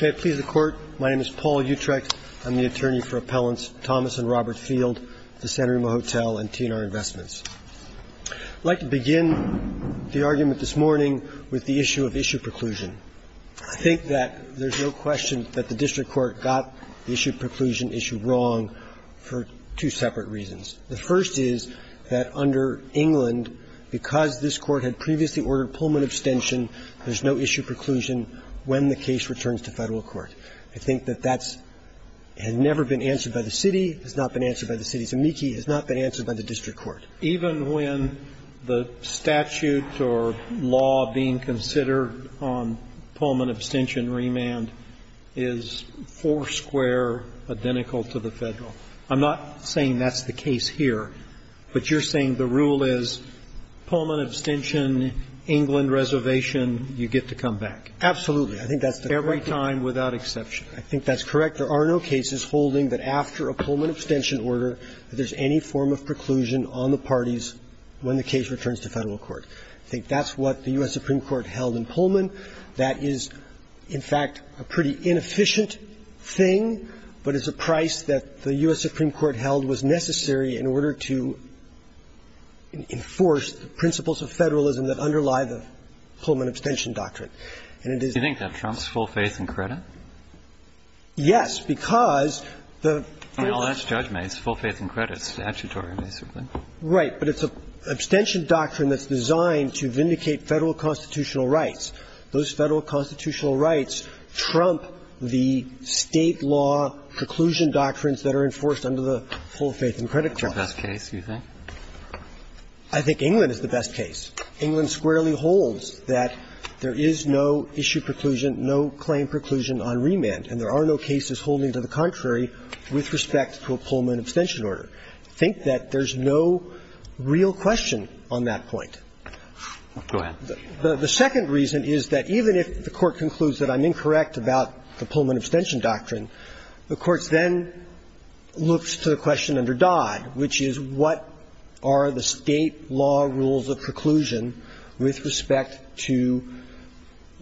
May I please the Court? My name is Paul Utrecht. I'm the attorney for appellants Thomas and Robert Field of the San Remo Hotel and TNR Investments. I'd like to begin the argument this morning with the issue of issue preclusion. I think that there's no question that the District Court got the issue of preclusion issue wrong for two separate reasons. The first is that under England, because this Court had previously ordered Pullman abstention, there's no issue preclusion when the case returns to Federal Court. I think that that has never been answered by the City. It has not been answered by the City. It's a meekie. It has not been answered by the District Court. Even when the statute or law being considered on Pullman abstention remand is four square identical to the Federal? I'm not saying that's the case here, but you're saying the rule is Pullman abstention, England reservation, you get to come back. Absolutely. I think that's the correct answer. Every time without exception. I think that's correct. There are no cases holding that after a Pullman abstention order that there's any form of preclusion on the parties when the case returns to Federal Court. I think that's what the U.S. Supreme Court held in Pullman. That is, in fact, a pretty inefficient thing, but it's a price that the U.S. Supreme Court held was necessary in order to enforce the principles of Federalism that underlie the Pullman abstention doctrine. And it is the case. Do you think that trumps full faith and credit? Yes, because the law... Well, that's judgment. It's full faith and credit, statutory, basically. Right. But it's an abstention doctrine that's designed to vindicate Federal constitutional rights. Those Federal constitutional rights trump the State law preclusion doctrines that are enforced under the full faith and credit clause. The best case, you think? I think England is the best case. England squarely holds that there is no issue preclusion, no claim preclusion on remand, and there are no cases holding to the contrary with respect to a Pullman abstention order. I think that there's no real question on that point. Go ahead. The second reason is that even if the Court concludes that I'm incorrect about the looks to the question under Dodd, which is what are the State law rules of preclusion with respect to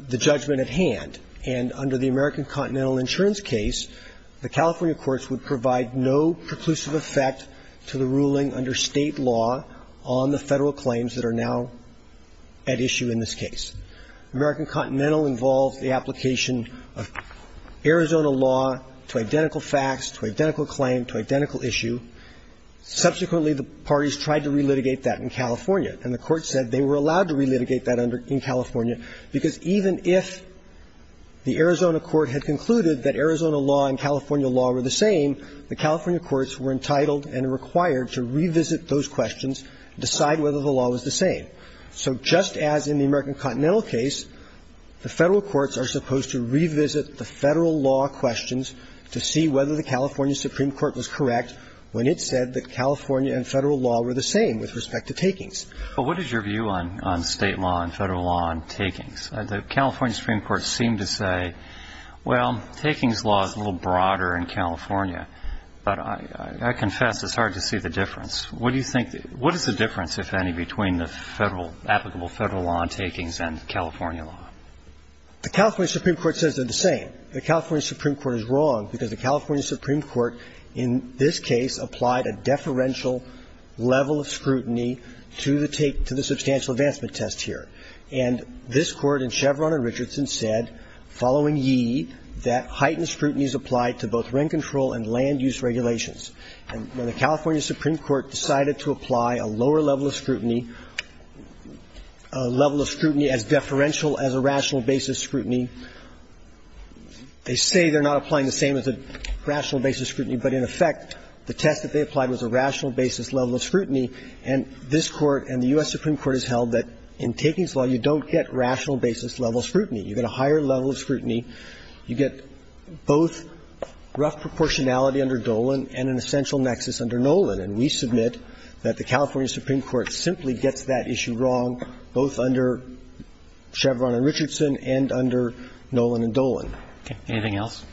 the judgment at hand, and under the American Continental Insurance case, the California courts would provide no preclusive effect to the ruling under State law on the Federal claims that are now at issue in this case. American Continental involves the application of Arizona law to identical facts, to identical claim, to identical issue. Subsequently, the parties tried to relitigate that in California, and the Court said they were allowed to relitigate that in California because even if the Arizona court had concluded that Arizona law and California law were the same, the California courts were entitled and required to revisit those questions, decide whether the law was the same. So just as in the American Continental case, the Federal courts are supposed to revisit the Federal law questions to see whether the California Supreme Court was correct when it said that California and Federal law were the same with respect to takings. But what is your view on State law and Federal law on takings? The California Supreme Court seemed to say, well, takings law is a little broader in California, but I confess it's hard to see the difference. What do you think the – what is the difference, if any, between the Federal – applicable Federal law on takings and California law? The California Supreme Court says they're the same. The California Supreme Court is wrong because the California Supreme Court in this case applied a deferential level of scrutiny to the take – to the substantial advancement test here. And this Court in Chevron and Richardson said, following Yee, that heightened scrutiny is applied to both rent control and land-use regulations. And when the California Supreme Court decided to apply a lower level of scrutiny, a level of scrutiny as deferential as a rational basis scrutiny, they say they're not applying the same as a rational basis scrutiny, but in effect, the test that they applied was a rational basis level of scrutiny. And this Court and the U.S. Supreme Court has held that in takings law, you don't get rational basis level scrutiny. You get a higher level of scrutiny. You get both rough proportionality under Dolan and an essential nexus under Nolan. And we submit that the California Supreme Court simply gets that issue wrong, both under Chevron and Richardson and under Nolan and Dolan. Okay. Anything else?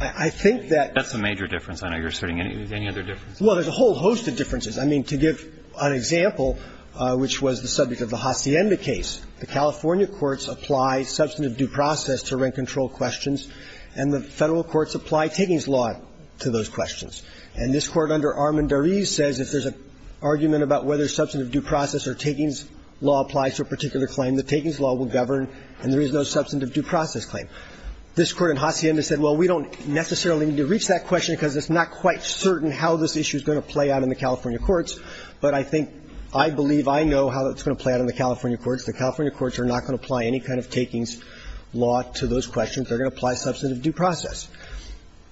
I think that – That's the major difference. I know you're asserting any other difference. Well, there's a whole host of differences. I mean, to give an example, which was the subject of the Hacienda case, the California courts apply substantive due process to rent control questions, and the Federal courts apply takings law to those questions. And this Court under Armendariz says if there's an argument about whether substantive due process or takings law applies to a particular claim, the takings law will govern and there is no substantive due process claim. This Court in Hacienda said, well, we don't necessarily need to reach that question because it's not quite certain how this issue is going to play out in the California courts, but I think – I believe I know how it's going to play out in the California courts. The California courts are not going to apply any kind of takings law to those questions. They're going to apply substantive due process.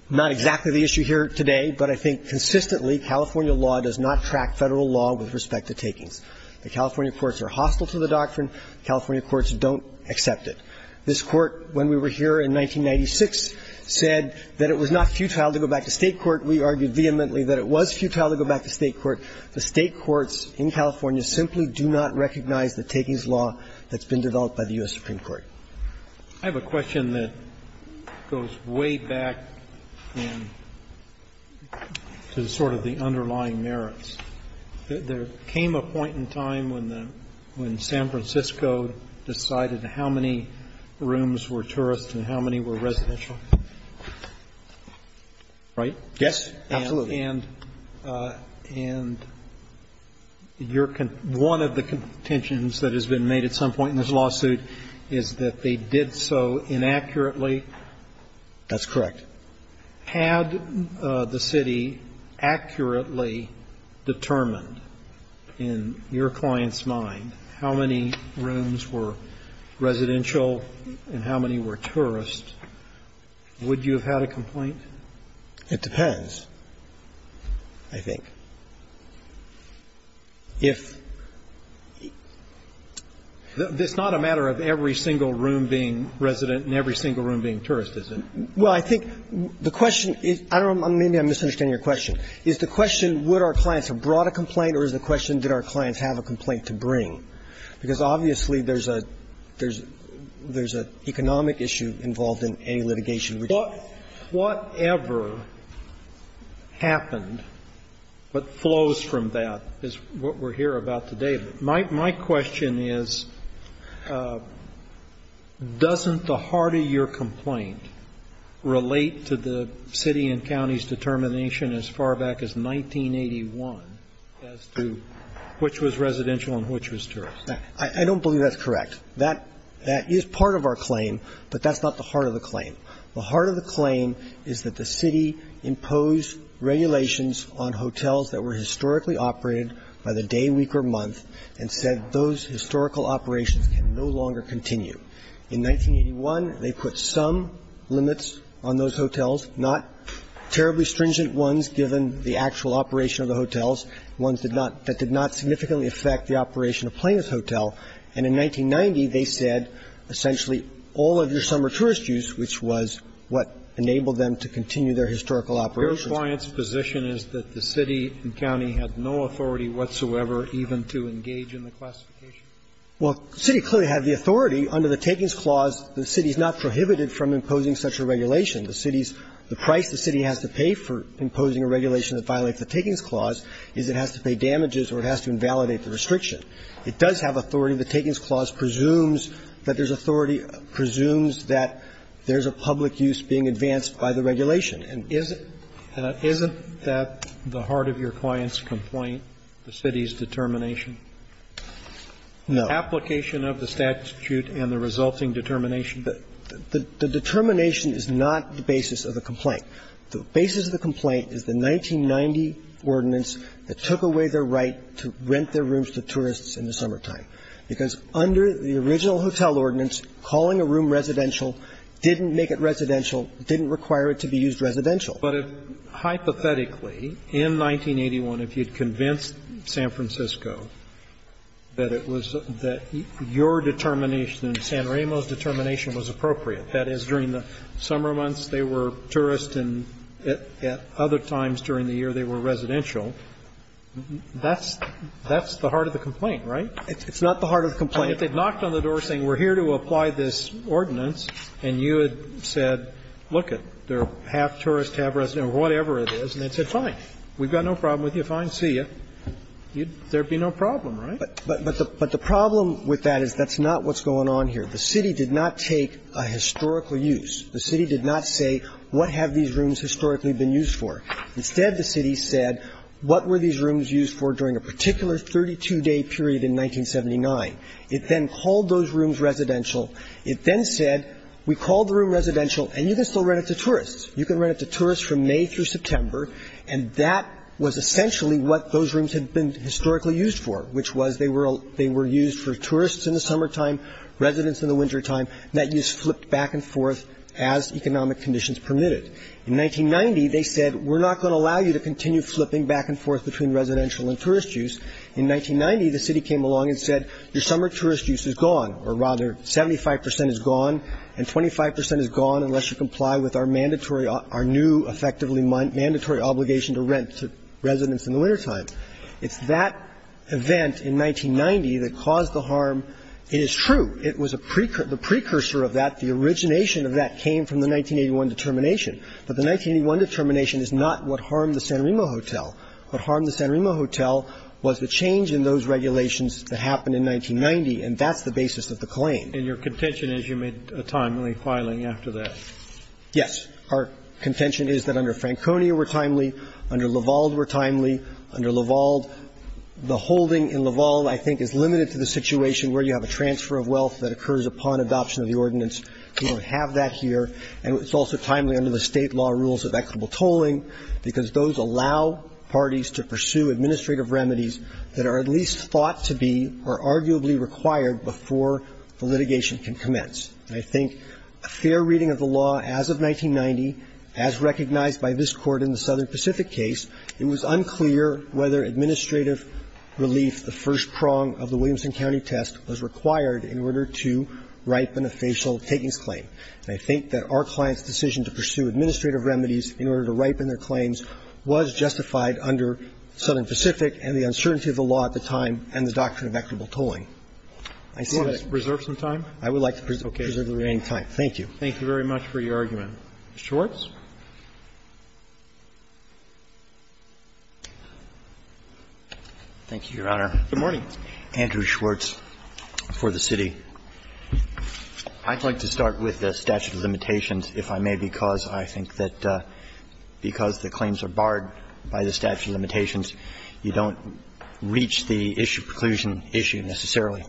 Not exactly the issue here today, but I think The California courts are hostile to the doctrine. The California courts don't accept it. This Court, when we were here in 1996, said that it was not futile to go back to State court. We argued vehemently that it was futile to go back to State court. The State courts in California simply do not recognize the takings law that's been developed by the U.S. Supreme Court. I have a question that goes way back to sort of the underlying merits. There came a point in time when the – when San Francisco decided how many rooms were tourist and how many were residential, right? Yes, absolutely. And your – one of the contentions that has been made at some point in this lawsuit is that they did so inaccurately. That's correct. Had the City accurately determined in your client's mind how many rooms were residential and how many were tourist, would you have had a complaint? It depends, I think. If – it's not a matter of every single room being resident and every single room being tourist, is it? Well, I think the question is – I don't know, maybe I'm misunderstanding your question. Is the question would our clients have brought a complaint or is the question did our clients have a complaint to bring? Because obviously there's a – there's an economic issue involved in any litigation which is – But whatever happened, what flows from that is what we're here about today. My question is, doesn't the heart of your complaint relate to the City and County's determination as far back as 1981 as to which was residential and which was tourist? I don't believe that's correct. That is part of our claim, but that's not the heart of the claim. The heart of the claim is that the City imposed regulations on hotels that were historically operated by the day, week, or month and said those historical operations can no longer continue. In 1981, they put some limits on those hotels, not terribly stringent ones given the actual operation of the hotels, ones that did not significantly affect the operation of Plains Hotel. And in 1990, they said essentially all of your summer tourist use, which was what enabled them to continue their historical operations. Your client's position is that the City and County had no authority whatsoever even to engage in the classification? Well, the City clearly had the authority. Under the Takings Clause, the City is not prohibited from imposing such a regulation. The City's – the price the City has to pay for imposing a regulation that violates the Takings Clause is it has to pay damages or it has to invalidate the restriction. It does have authority. The Takings Clause presumes that there's authority, presumes that there's a public use being advanced by the regulation. And is it that the heart of your client's complaint, the City's determination? No. The application of the statute and the resulting determination? The determination is not the basis of the complaint. The basis of the complaint is the 1990 ordinance that took away their right to rent their rooms to tourists in the summertime, because under the original hotel ordinance, calling a room residential didn't make it residential, didn't require it to be used as a residential. But if, hypothetically, in 1981, if you'd convinced San Francisco that it was – that your determination and San Ramo's determination was appropriate, that is, during the summer months they were tourists and at other times during the year they were residential, that's the heart of the complaint, right? It's not the heart of the complaint. And if they'd knocked on the door saying, we're here to apply this ordinance and you had said, lookit, they're half tourist, half residential, whatever it is, and they'd say, fine, we've got no problem with you, fine, see ya, there'd be no problem, right? But the problem with that is that's not what's going on here. The City did not take a historical use. The City did not say, what have these rooms historically been used for? Instead, the City said, what were these rooms used for during a particular 32-day period in 1979? It then called those rooms residential. It then said, we called the room residential, and you can still rent it to tourists. You can rent it to tourists from May through September, and that was essentially what those rooms had been historically used for, which was they were used for tourists in the summertime, residents in the wintertime, and that use flipped back and forth as economic conditions permitted. In 1990, they said, we're not going to allow you to continue flipping back and forth between residential and tourist use. In 1990, the City came along and said, your summer tourist use is gone, or rather, 75% is gone, and 25% is gone unless you comply with our mandatory, our new effectively mandatory obligation to rent to residents in the wintertime. It's that event in 1990 that caused the harm. It is true, the precursor of that, the origination of that came from the 1981 determination. But the 1981 determination is not what harmed the San Remo Hotel. What harmed the San Remo Hotel was the change in those regulations that happened in 1990, and that's the basis of the claim. And your contention is you made a timely filing after that. Yes. Our contention is that under Franconia were timely, under Lavalde were timely. Under Lavalde, the holding in Lavalde, I think, is limited to the situation where you have a transfer of wealth that occurs upon adoption of the ordinance. We don't have that here. And it's also timely under the State law rules of equitable tolling, because those allow parties to pursue administrative remedies that are at least thought to be or arguably required before the litigation can commence. And I think a fair reading of the law as of 1990, as recognized by this court in the Southern Pacific case, it was unclear whether administrative relief, the first prong of the Williamson County test, was required in order to ripen a facial takings claim. And I think that our client's decision to pursue administrative remedies in order to ripen their claims was justified under Southern Pacific and the uncertainty of the law at the time and the doctrine of equitable tolling. I see that. Go ahead. Preserve some time? I would like to preserve the remaining time. Thank you. Thank you very much for your argument. Mr. Schwartz. Thank you, Your Honor. Good morning. Andrew Schwartz for the city. I'd like to start with the statute of limitations, if I may, because I think that because the claims are barred by the statute of limitations, you don't reach the issue of preclusion issue necessarily.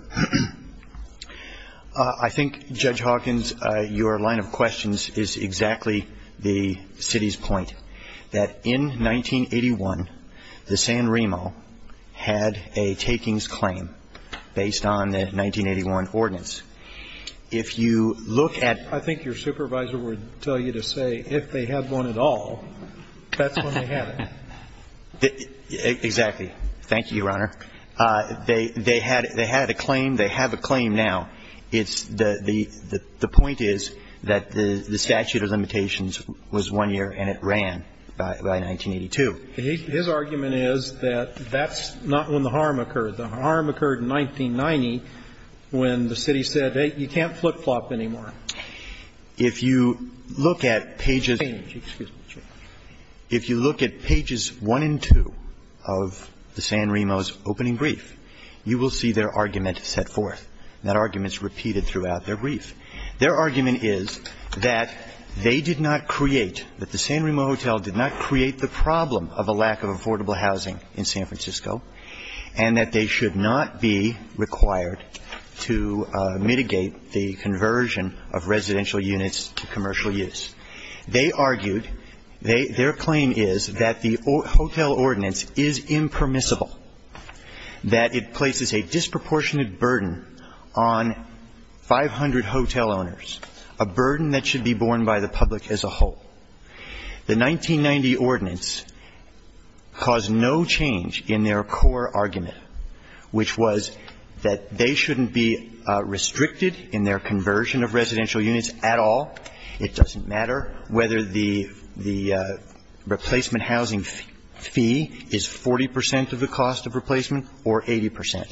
I think, Judge Hawkins, your line of questions is exactly the city's point, that in 1981, the San Remo had a takings claim based on the 1981 ordinance. If you look at the San Remo case, I think your supervisor would tell you to say if they had one at all, that's when they had it. Exactly. Thank you, Your Honor. They had a claim. They have a claim now. The point is that the statute of limitations was one year and it ran by 1982. His argument is that that's not when the harm occurred. The harm occurred in 1990 when the city said, hey, you can't flip-flop anymore. If you look at pages one and two of the San Remo's opening brief, you will see their argument set forth. That argument is repeated throughout their brief. Their argument is that they did not create, that the San Remo Hotel did not create the problem of a lack of affordable housing in San Francisco and that they should not be required to mitigate the conversion of residential units to commercial use. They argued, their claim is that the hotel ordinance is impermissible. That it places a disproportionate burden on 500 hotel owners. A burden that should be borne by the public as a whole. The 1990 ordinance caused no change in their core argument, which was that they shouldn't be restricted in their conversion of residential units at all. It doesn't matter whether the replacement housing fee is 40% of the cost of replacement or 80%.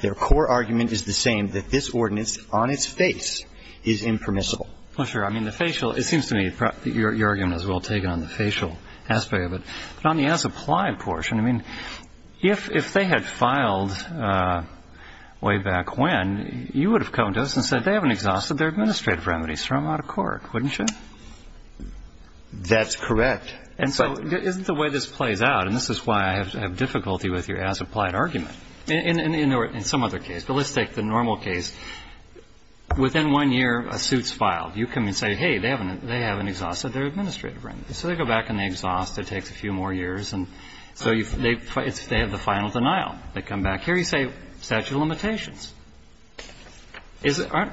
Their core argument is the same, that this ordinance on its face is impermissible. Well sure, I mean the facial, it seems to me your argument is well taken on the facial aspect of it. But on the as-applied portion, I mean, if they had filed way back when, you would have come to us and said they haven't exhausted their administrative remedies, throw them out of court, wouldn't you? That's correct. And so isn't the way this plays out, and this is why I have difficulty with your as-applied argument, in some other case. But let's take the normal case. Within one year, a suit's filed. You come and say, hey, they haven't exhausted their administrative remedies. So they go back and they exhaust, it takes a few more years, and so they have the final denial. They come back here, you say statute of limitations. I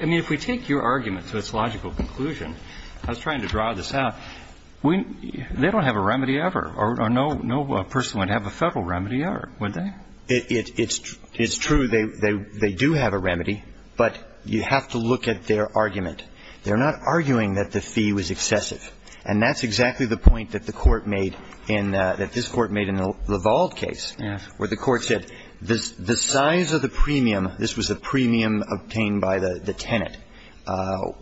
mean, if we take your argument to its logical conclusion, I was trying to draw this out. They don't have a remedy ever, or no person would have a Federal remedy ever, would they? It's true, they do have a remedy, but you have to look at their argument. They're not arguing that the fee was excessive. And that's exactly the point that the Court made in the, that this Court made in the LaVald case, where the Court said the size of the premium, this was the premium obtained by the tenant,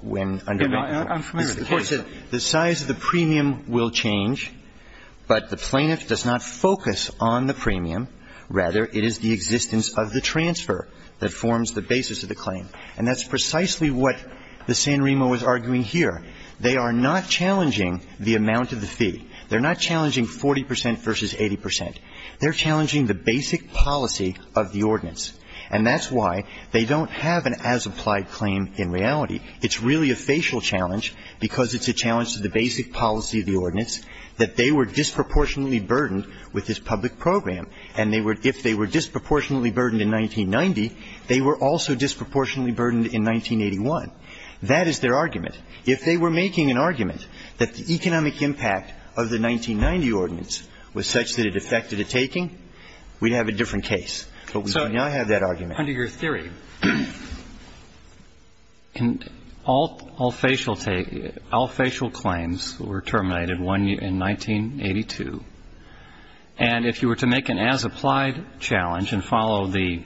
when under the court said, the size of the premium will change. But the plaintiff does not focus on the premium. Rather, it is the existence of the transfer that forms the basis of the claim. And that's precisely what the San Remo is arguing here. They are not challenging the amount of the fee. They're not challenging 40 percent versus 80 percent. They're challenging the basic policy of the ordinance. And that's why they don't have an as-applied claim in reality. It's really a facial challenge, because it's a challenge to the basic policy of the ordinance, that they were disproportionately burdened with this public program. And they were – if they were disproportionately burdened in 1990, they were also disproportionately burdened in 1981. That is their argument. If they were making an argument that the economic impact of the 1990 ordinance was such that it affected a taking, we'd have a different case. But we do not have that argument. Under your theory, all facial claims were terminated in 1982. And if you were to make an as-applied challenge and follow the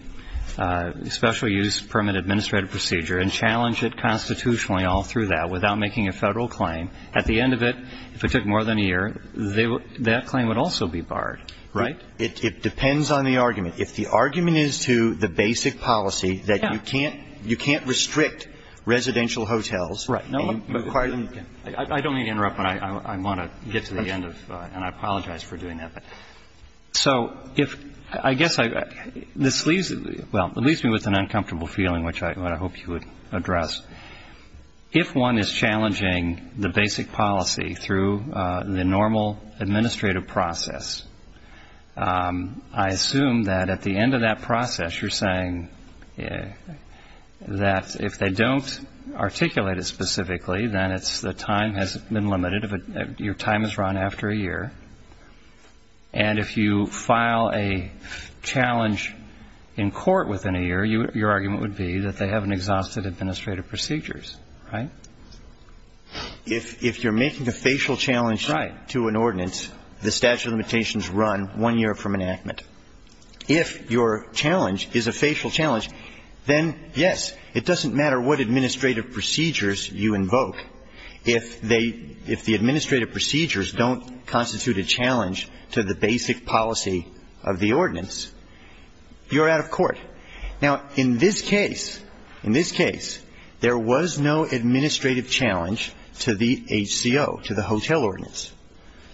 Special Use Permit Administrative Procedure and challenge it constitutionally all through that without making a Federal claim, at the end of it, if it took more than a year, that claim would also be barred. Right? It depends on the argument. If the argument is to the basic policy that you can't – you can't restrict residential hotels and require them to be closed. I don't mean to interrupt, but I want to get to the end of – and I apologize for doing that, but – so if – I guess I – this leaves – well, it leaves me with an uncomfortable feeling, which I hope you would address. If one is challenging the basic policy through the normal administrative process, I assume that at the end of that process, you're saying that if they don't articulate it specifically, then it's – the time has been limited. Your time is run after a year. And if you file a challenge in court within a year, your argument would be that they have an exhausted administrative procedures. Right? If you're making a facial challenge to an ordinance, the statute of limitations run one year from enactment. If your challenge is a facial challenge, then, yes, it doesn't matter what administrative procedures you invoke. If they – if the administrative procedures don't constitute a challenge to the basic policy of the ordinance, you're out of court. Now, in this case – in this case, there was no administrative challenge to the HCO, to the hotel ordinance.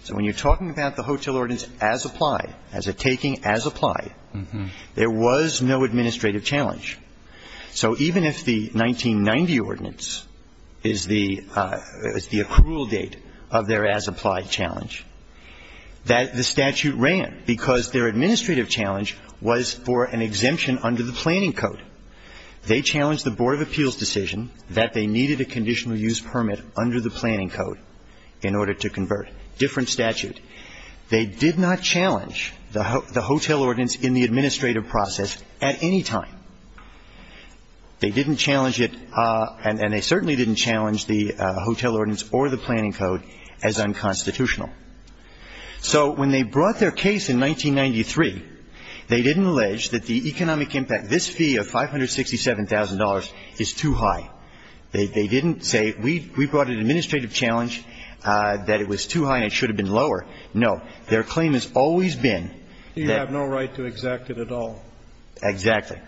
So when you're talking about the hotel ordinance as applied, as a taking as applied, there was no administrative challenge. So even if the 1990 ordinance is the – is the accrual date of their as applied challenge, that – the statute ran because their administrative challenge was for an exemption under the planning code. They challenged the board of appeals decision that they needed a conditional use permit under the planning code in order to convert. Different statute. They did not challenge the hotel ordinance in the administrative process at any time. They didn't challenge it – and they certainly didn't challenge the hotel ordinance or the planning code as unconstitutional. So when they brought their case in 1993, they didn't allege that the economic impact – this fee of $567,000 is too high. They didn't say, we brought an administrative challenge that it was too high and it should have been lower. No. Their claim has always been that – You have no right to exact it at all. Exactly.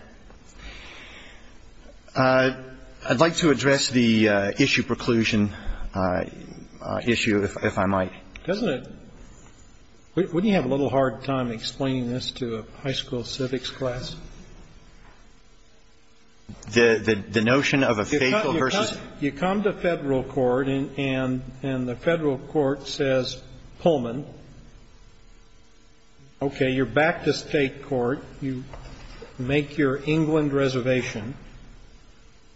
I'd like to address the issue preclusion issue, if I might. Doesn't it – wouldn't you have a little hard time explaining this to a high school civics class? The notion of a fateful versus – You come to Federal court, and the Federal court says, Pullman, okay, you're back to State court, you make your England reservation,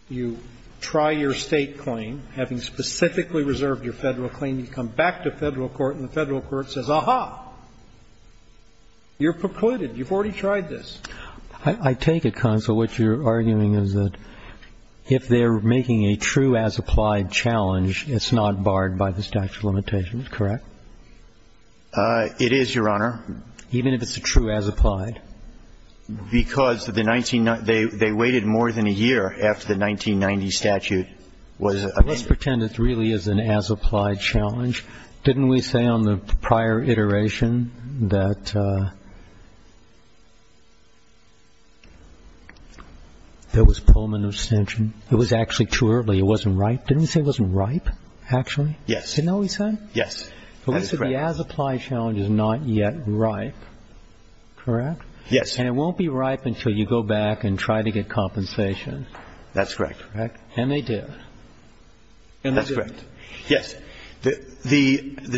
you try your State claim, having specifically reserved your Federal claim, you come back to Federal court, and the Federal court says, aha, you're precluded. You've already tried this. I take it, counsel, what you're arguing is that if they're making a true as-applied challenge, it's not barred by the statute of limitations, correct? It is, Your Honor. Even if it's a true as-applied? Because the 19 – they waited more than a year after the 1990 statute was amended. Let's pretend it really is an as-applied challenge. Didn't we say on the prior iteration that there was Pullman abstention? It was actually too early. It wasn't ripe. Didn't we say it wasn't ripe, actually? Yes. Isn't that what we said? Yes. That is correct. But we said the as-applied challenge is not yet ripe, correct? Yes. And it won't be ripe until you go back and try to get compensation. That's correct. Correct? And they did. And they did. Yes. The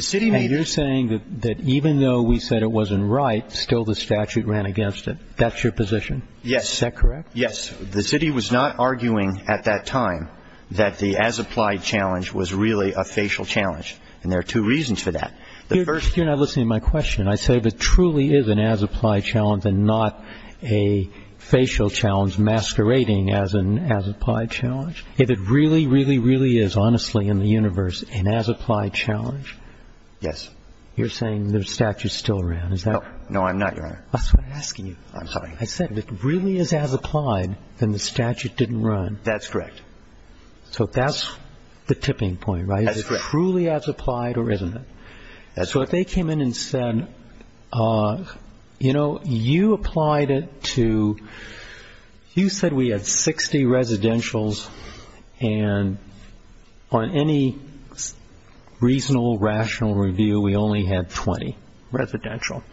city made – And you're saying that even though we said it wasn't ripe, still the statute ran against it. That's your position? Yes. Is that correct? Yes. The city was not arguing at that time that the as-applied challenge was really a facial challenge. And there are two reasons for that. The first – You're not listening to my question. I say if it truly is an as-applied challenge and not a facial challenge masquerading as an as-applied challenge. If it really, really, really is, honestly, in the universe, an as-applied challenge. Yes. You're saying the statute still ran, is that correct? No, I'm not, Your Honor. That's what I'm asking you. I'm sorry. I said if it really is as-applied, then the statute didn't run. That's correct. So that's the tipping point, right? That's correct. Is it truly as-applied or isn't it? So if they came in and said, you know, you applied it to – you said we had 60 residentials and on any reasonable, rational review, we only had 20 residential.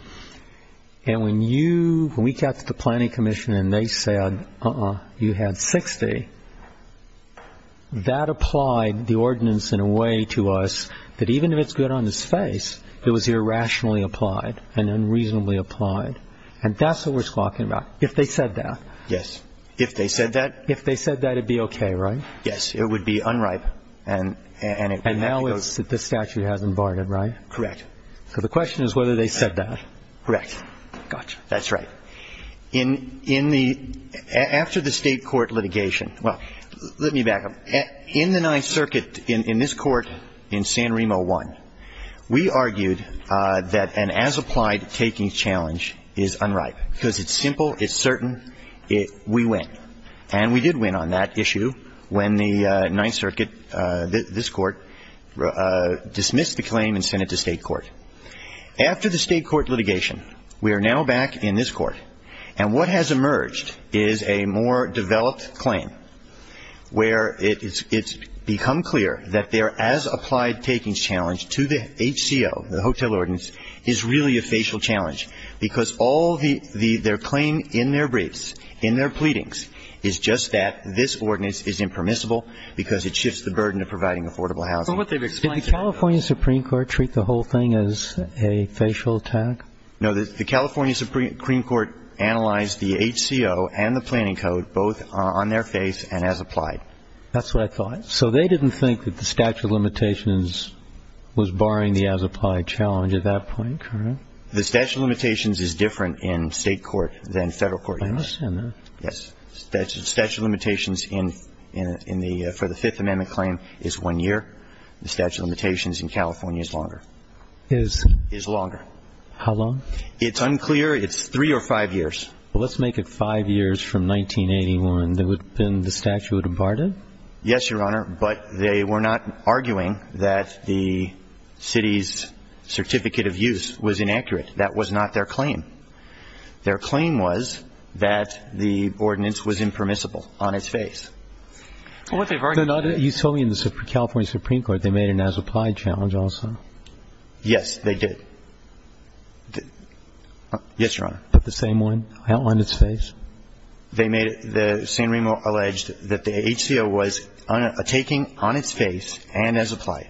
And when you – when we got to the Planning Commission and they said, uh-uh, you had 60, that applied the ordinance in a way to us that even if it's good on its face, it was irrationally applied and unreasonably applied. And that's what we're talking about. If they said that. Yes. If they said that? If they said that, it would be okay, right? It would be unripe and it would have to go – And now it's – the statute hasn't barred it, right? Correct. So the question is whether they said that. Correct. Gotcha. That's right. In – in the – after the State court litigation – well, let me back up. In the Ninth Circuit, in this court, in San Remo 1, we argued that an as-applied taking challenge is unripe because it's simple, it's certain, we win. And we did win on that issue when the Ninth Circuit, this court, dismissed the claim and sent it to State court. After the State court litigation, we are now back in this court and what has emerged is a more developed claim where it's become clear that their as-applied taking challenge to the HCO, the hotel ordinance, is really a facial challenge because all the – their claim in their briefs, in their pleadings, is just that this ordinance is impermissible because it shifts the burden of providing affordable housing. Did the California Supreme Court treat the whole thing as a facial attack? No, the California Supreme Court analyzed the HCO and the planning code both on their face and as-applied. That's what I thought. So they didn't think that the statute of limitations was barring the as-applied challenge at that point, correct? The statute of limitations is different in State court than Federal court. I understand that. Yes. The statute of limitations in the – for the Fifth Amendment claim is one year. The statute of limitations in California is longer. Is? Is longer. How long? It's unclear. It's three or five years. Well, let's make it five years from 1981. Then the statute would have barred it? Yes, Your Honor, but they were not arguing that the city's certificate of use was inaccurate. That was not their claim. Their claim was that the ordinance was impermissible on its face. You told me in the California Supreme Court they made an as-applied challenge also. Yes, they did. Yes, Your Honor. But the same one on its face? They made – the San Remo alleged that the HCO was a taking on its face and as-applied.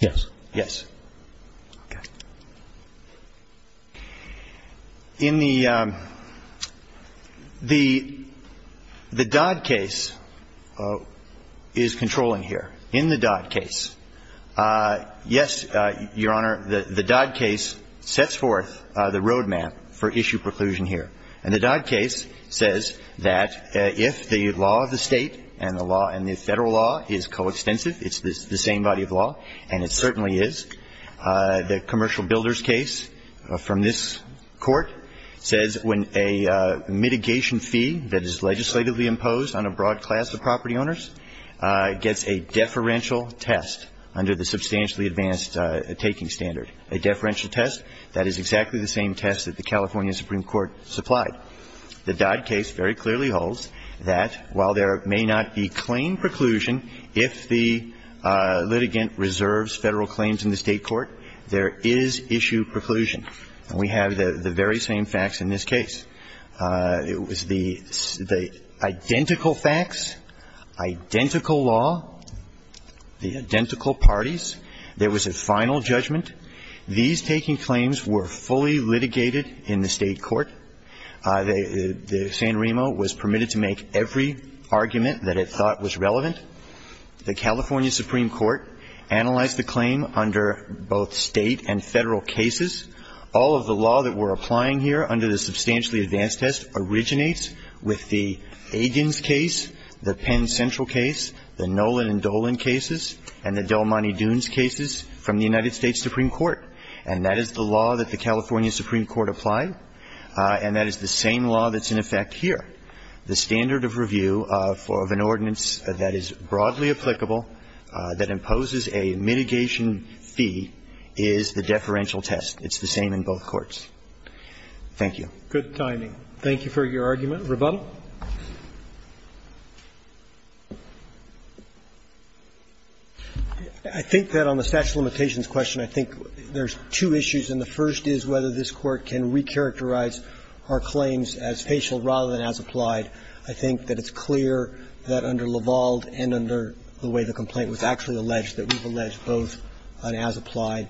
Yes. Yes. Okay. In the – the Dodd case is controlling here. In the Dodd case, yes, Your Honor, the Dodd case sets forth the roadmap for issue preclusion here. And the Dodd case says that if the law of the State and the law – and the Federal law is coextensive, it's the same body of law, and it certainly is, the commercial builder's case from this Court says when a mitigation fee that is legislatively imposed on a broad class of property owners gets a deferential test under the substantially advanced taking standard, a deferential test, that is exactly the same test that the California Supreme Court supplied. The Dodd case very clearly holds that while there may not be claim preclusion, if the issue preclusion, and we have the very same facts in this case, it was the identical facts, identical law, the identical parties, there was a final judgment. These taking claims were fully litigated in the State court. The San Remo was permitted to make every argument that it thought was relevant. The California Supreme Court analyzed the claim under both State and Federal cases. All of the law that we're applying here under the substantially advanced test originates with the Agins case, the Penn Central case, the Nolan and Dolan cases, and the Delmonte Dunes cases from the United States Supreme Court. And that is the law that the California Supreme Court applied, and that is the same law that's in effect here. The standard of review of an ordinance that is broadly applicable, that imposes a mitigation fee, is the deferential test. It's the same in both courts. Thank you. Roberts. Good timing. Thank you for your argument. Rebuttal. I think that on the statute of limitations question, I think there's two issues, and the first is whether this Court can recharacterize our claims as facial rather than as applied. I think that it's clear that under Lavalde and under the way the complaint was actually alleged that we've alleged both an as-applied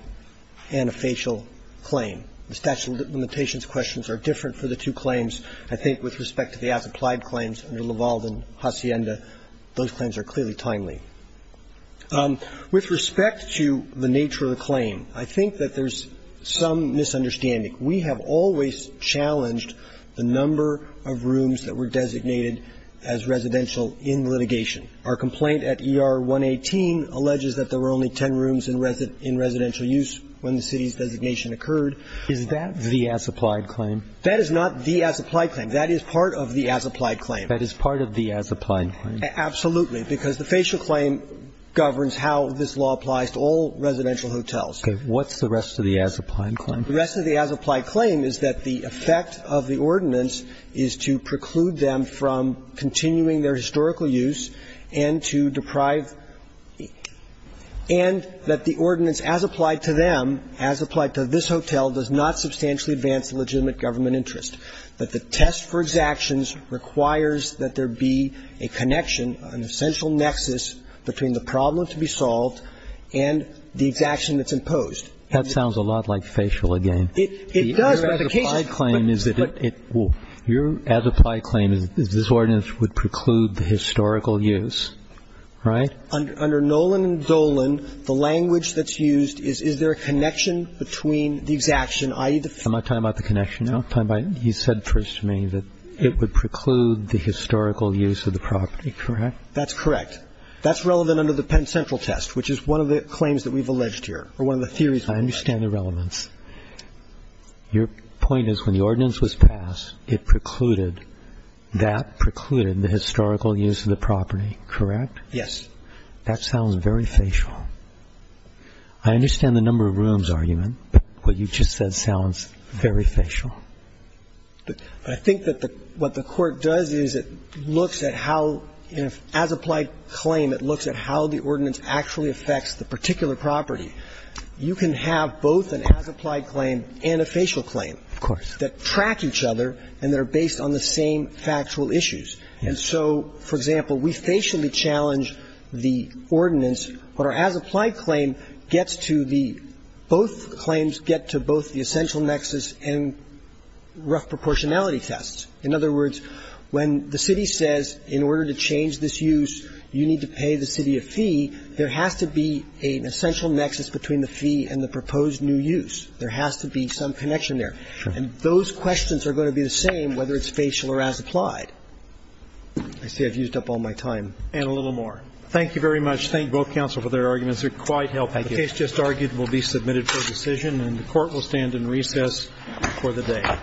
and a facial claim. The statute of limitations questions are different for the two claims. I think with respect to the as-applied claims under Lavalde and Hacienda, those claims are clearly timely. With respect to the nature of the claim, I think that there's some misunderstanding. We have always challenged the number of rooms that were designated as residential in litigation. Our complaint at ER 118 alleges that there were only ten rooms in residential use when the city's designation occurred. Is that the as-applied claim? That is not the as-applied claim. That is part of the as-applied claim. That is part of the as-applied claim. Absolutely, because the facial claim governs how this law applies to all residential hotels. Okay. What's the rest of the as-applied claim? The rest of the as-applied claim is that the effect of the ordinance is to preclude them from continuing their historical use and to deprive – and that the ordinance as applied to them, as applied to this hotel, does not substantially advance the legitimate government interest, that the test for exactions requires that there be a connection, an essential nexus between the problem to be solved and the exaction that's imposed. That sounds a lot like facial again. It does, but the case is – Your as-applied claim is that it – your as-applied claim is that this ordinance would preclude the historical use, right? Under Nolan and Dolan, the language that's used is, is there a connection between the exaction, i.e., the – Am I talking about the connection now? You said first to me that it would preclude the historical use of the property, correct? That's correct. That's relevant under the Penn Central test, which is one of the claims that we've I understand the relevance. Your point is when the ordinance was passed, it precluded – that precluded the historical use of the property, correct? Yes. That sounds very facial. I understand the number of rooms argument, but what you just said sounds very facial. I think that the – what the Court does is it looks at how, as-applied claim, it looks at how the ordinance actually affects the particular property. You can have both an as-applied claim and a facial claim that track each other and that are based on the same factual issues. And so, for example, we facially challenge the ordinance, but our as-applied claim gets to the – both claims get to both the essential nexus and rough proportionality tests. In other words, when the city says in order to change this use, you need to pay the between the fee and the proposed new use. There has to be some connection there. And those questions are going to be the same whether it's facial or as-applied. I see I've used up all my time. And a little more. Thank you very much. Thank both counsel for their arguments. They're quite helpful. The case just argued will be submitted for decision, and the Court will stand in recess for the day. Thank you.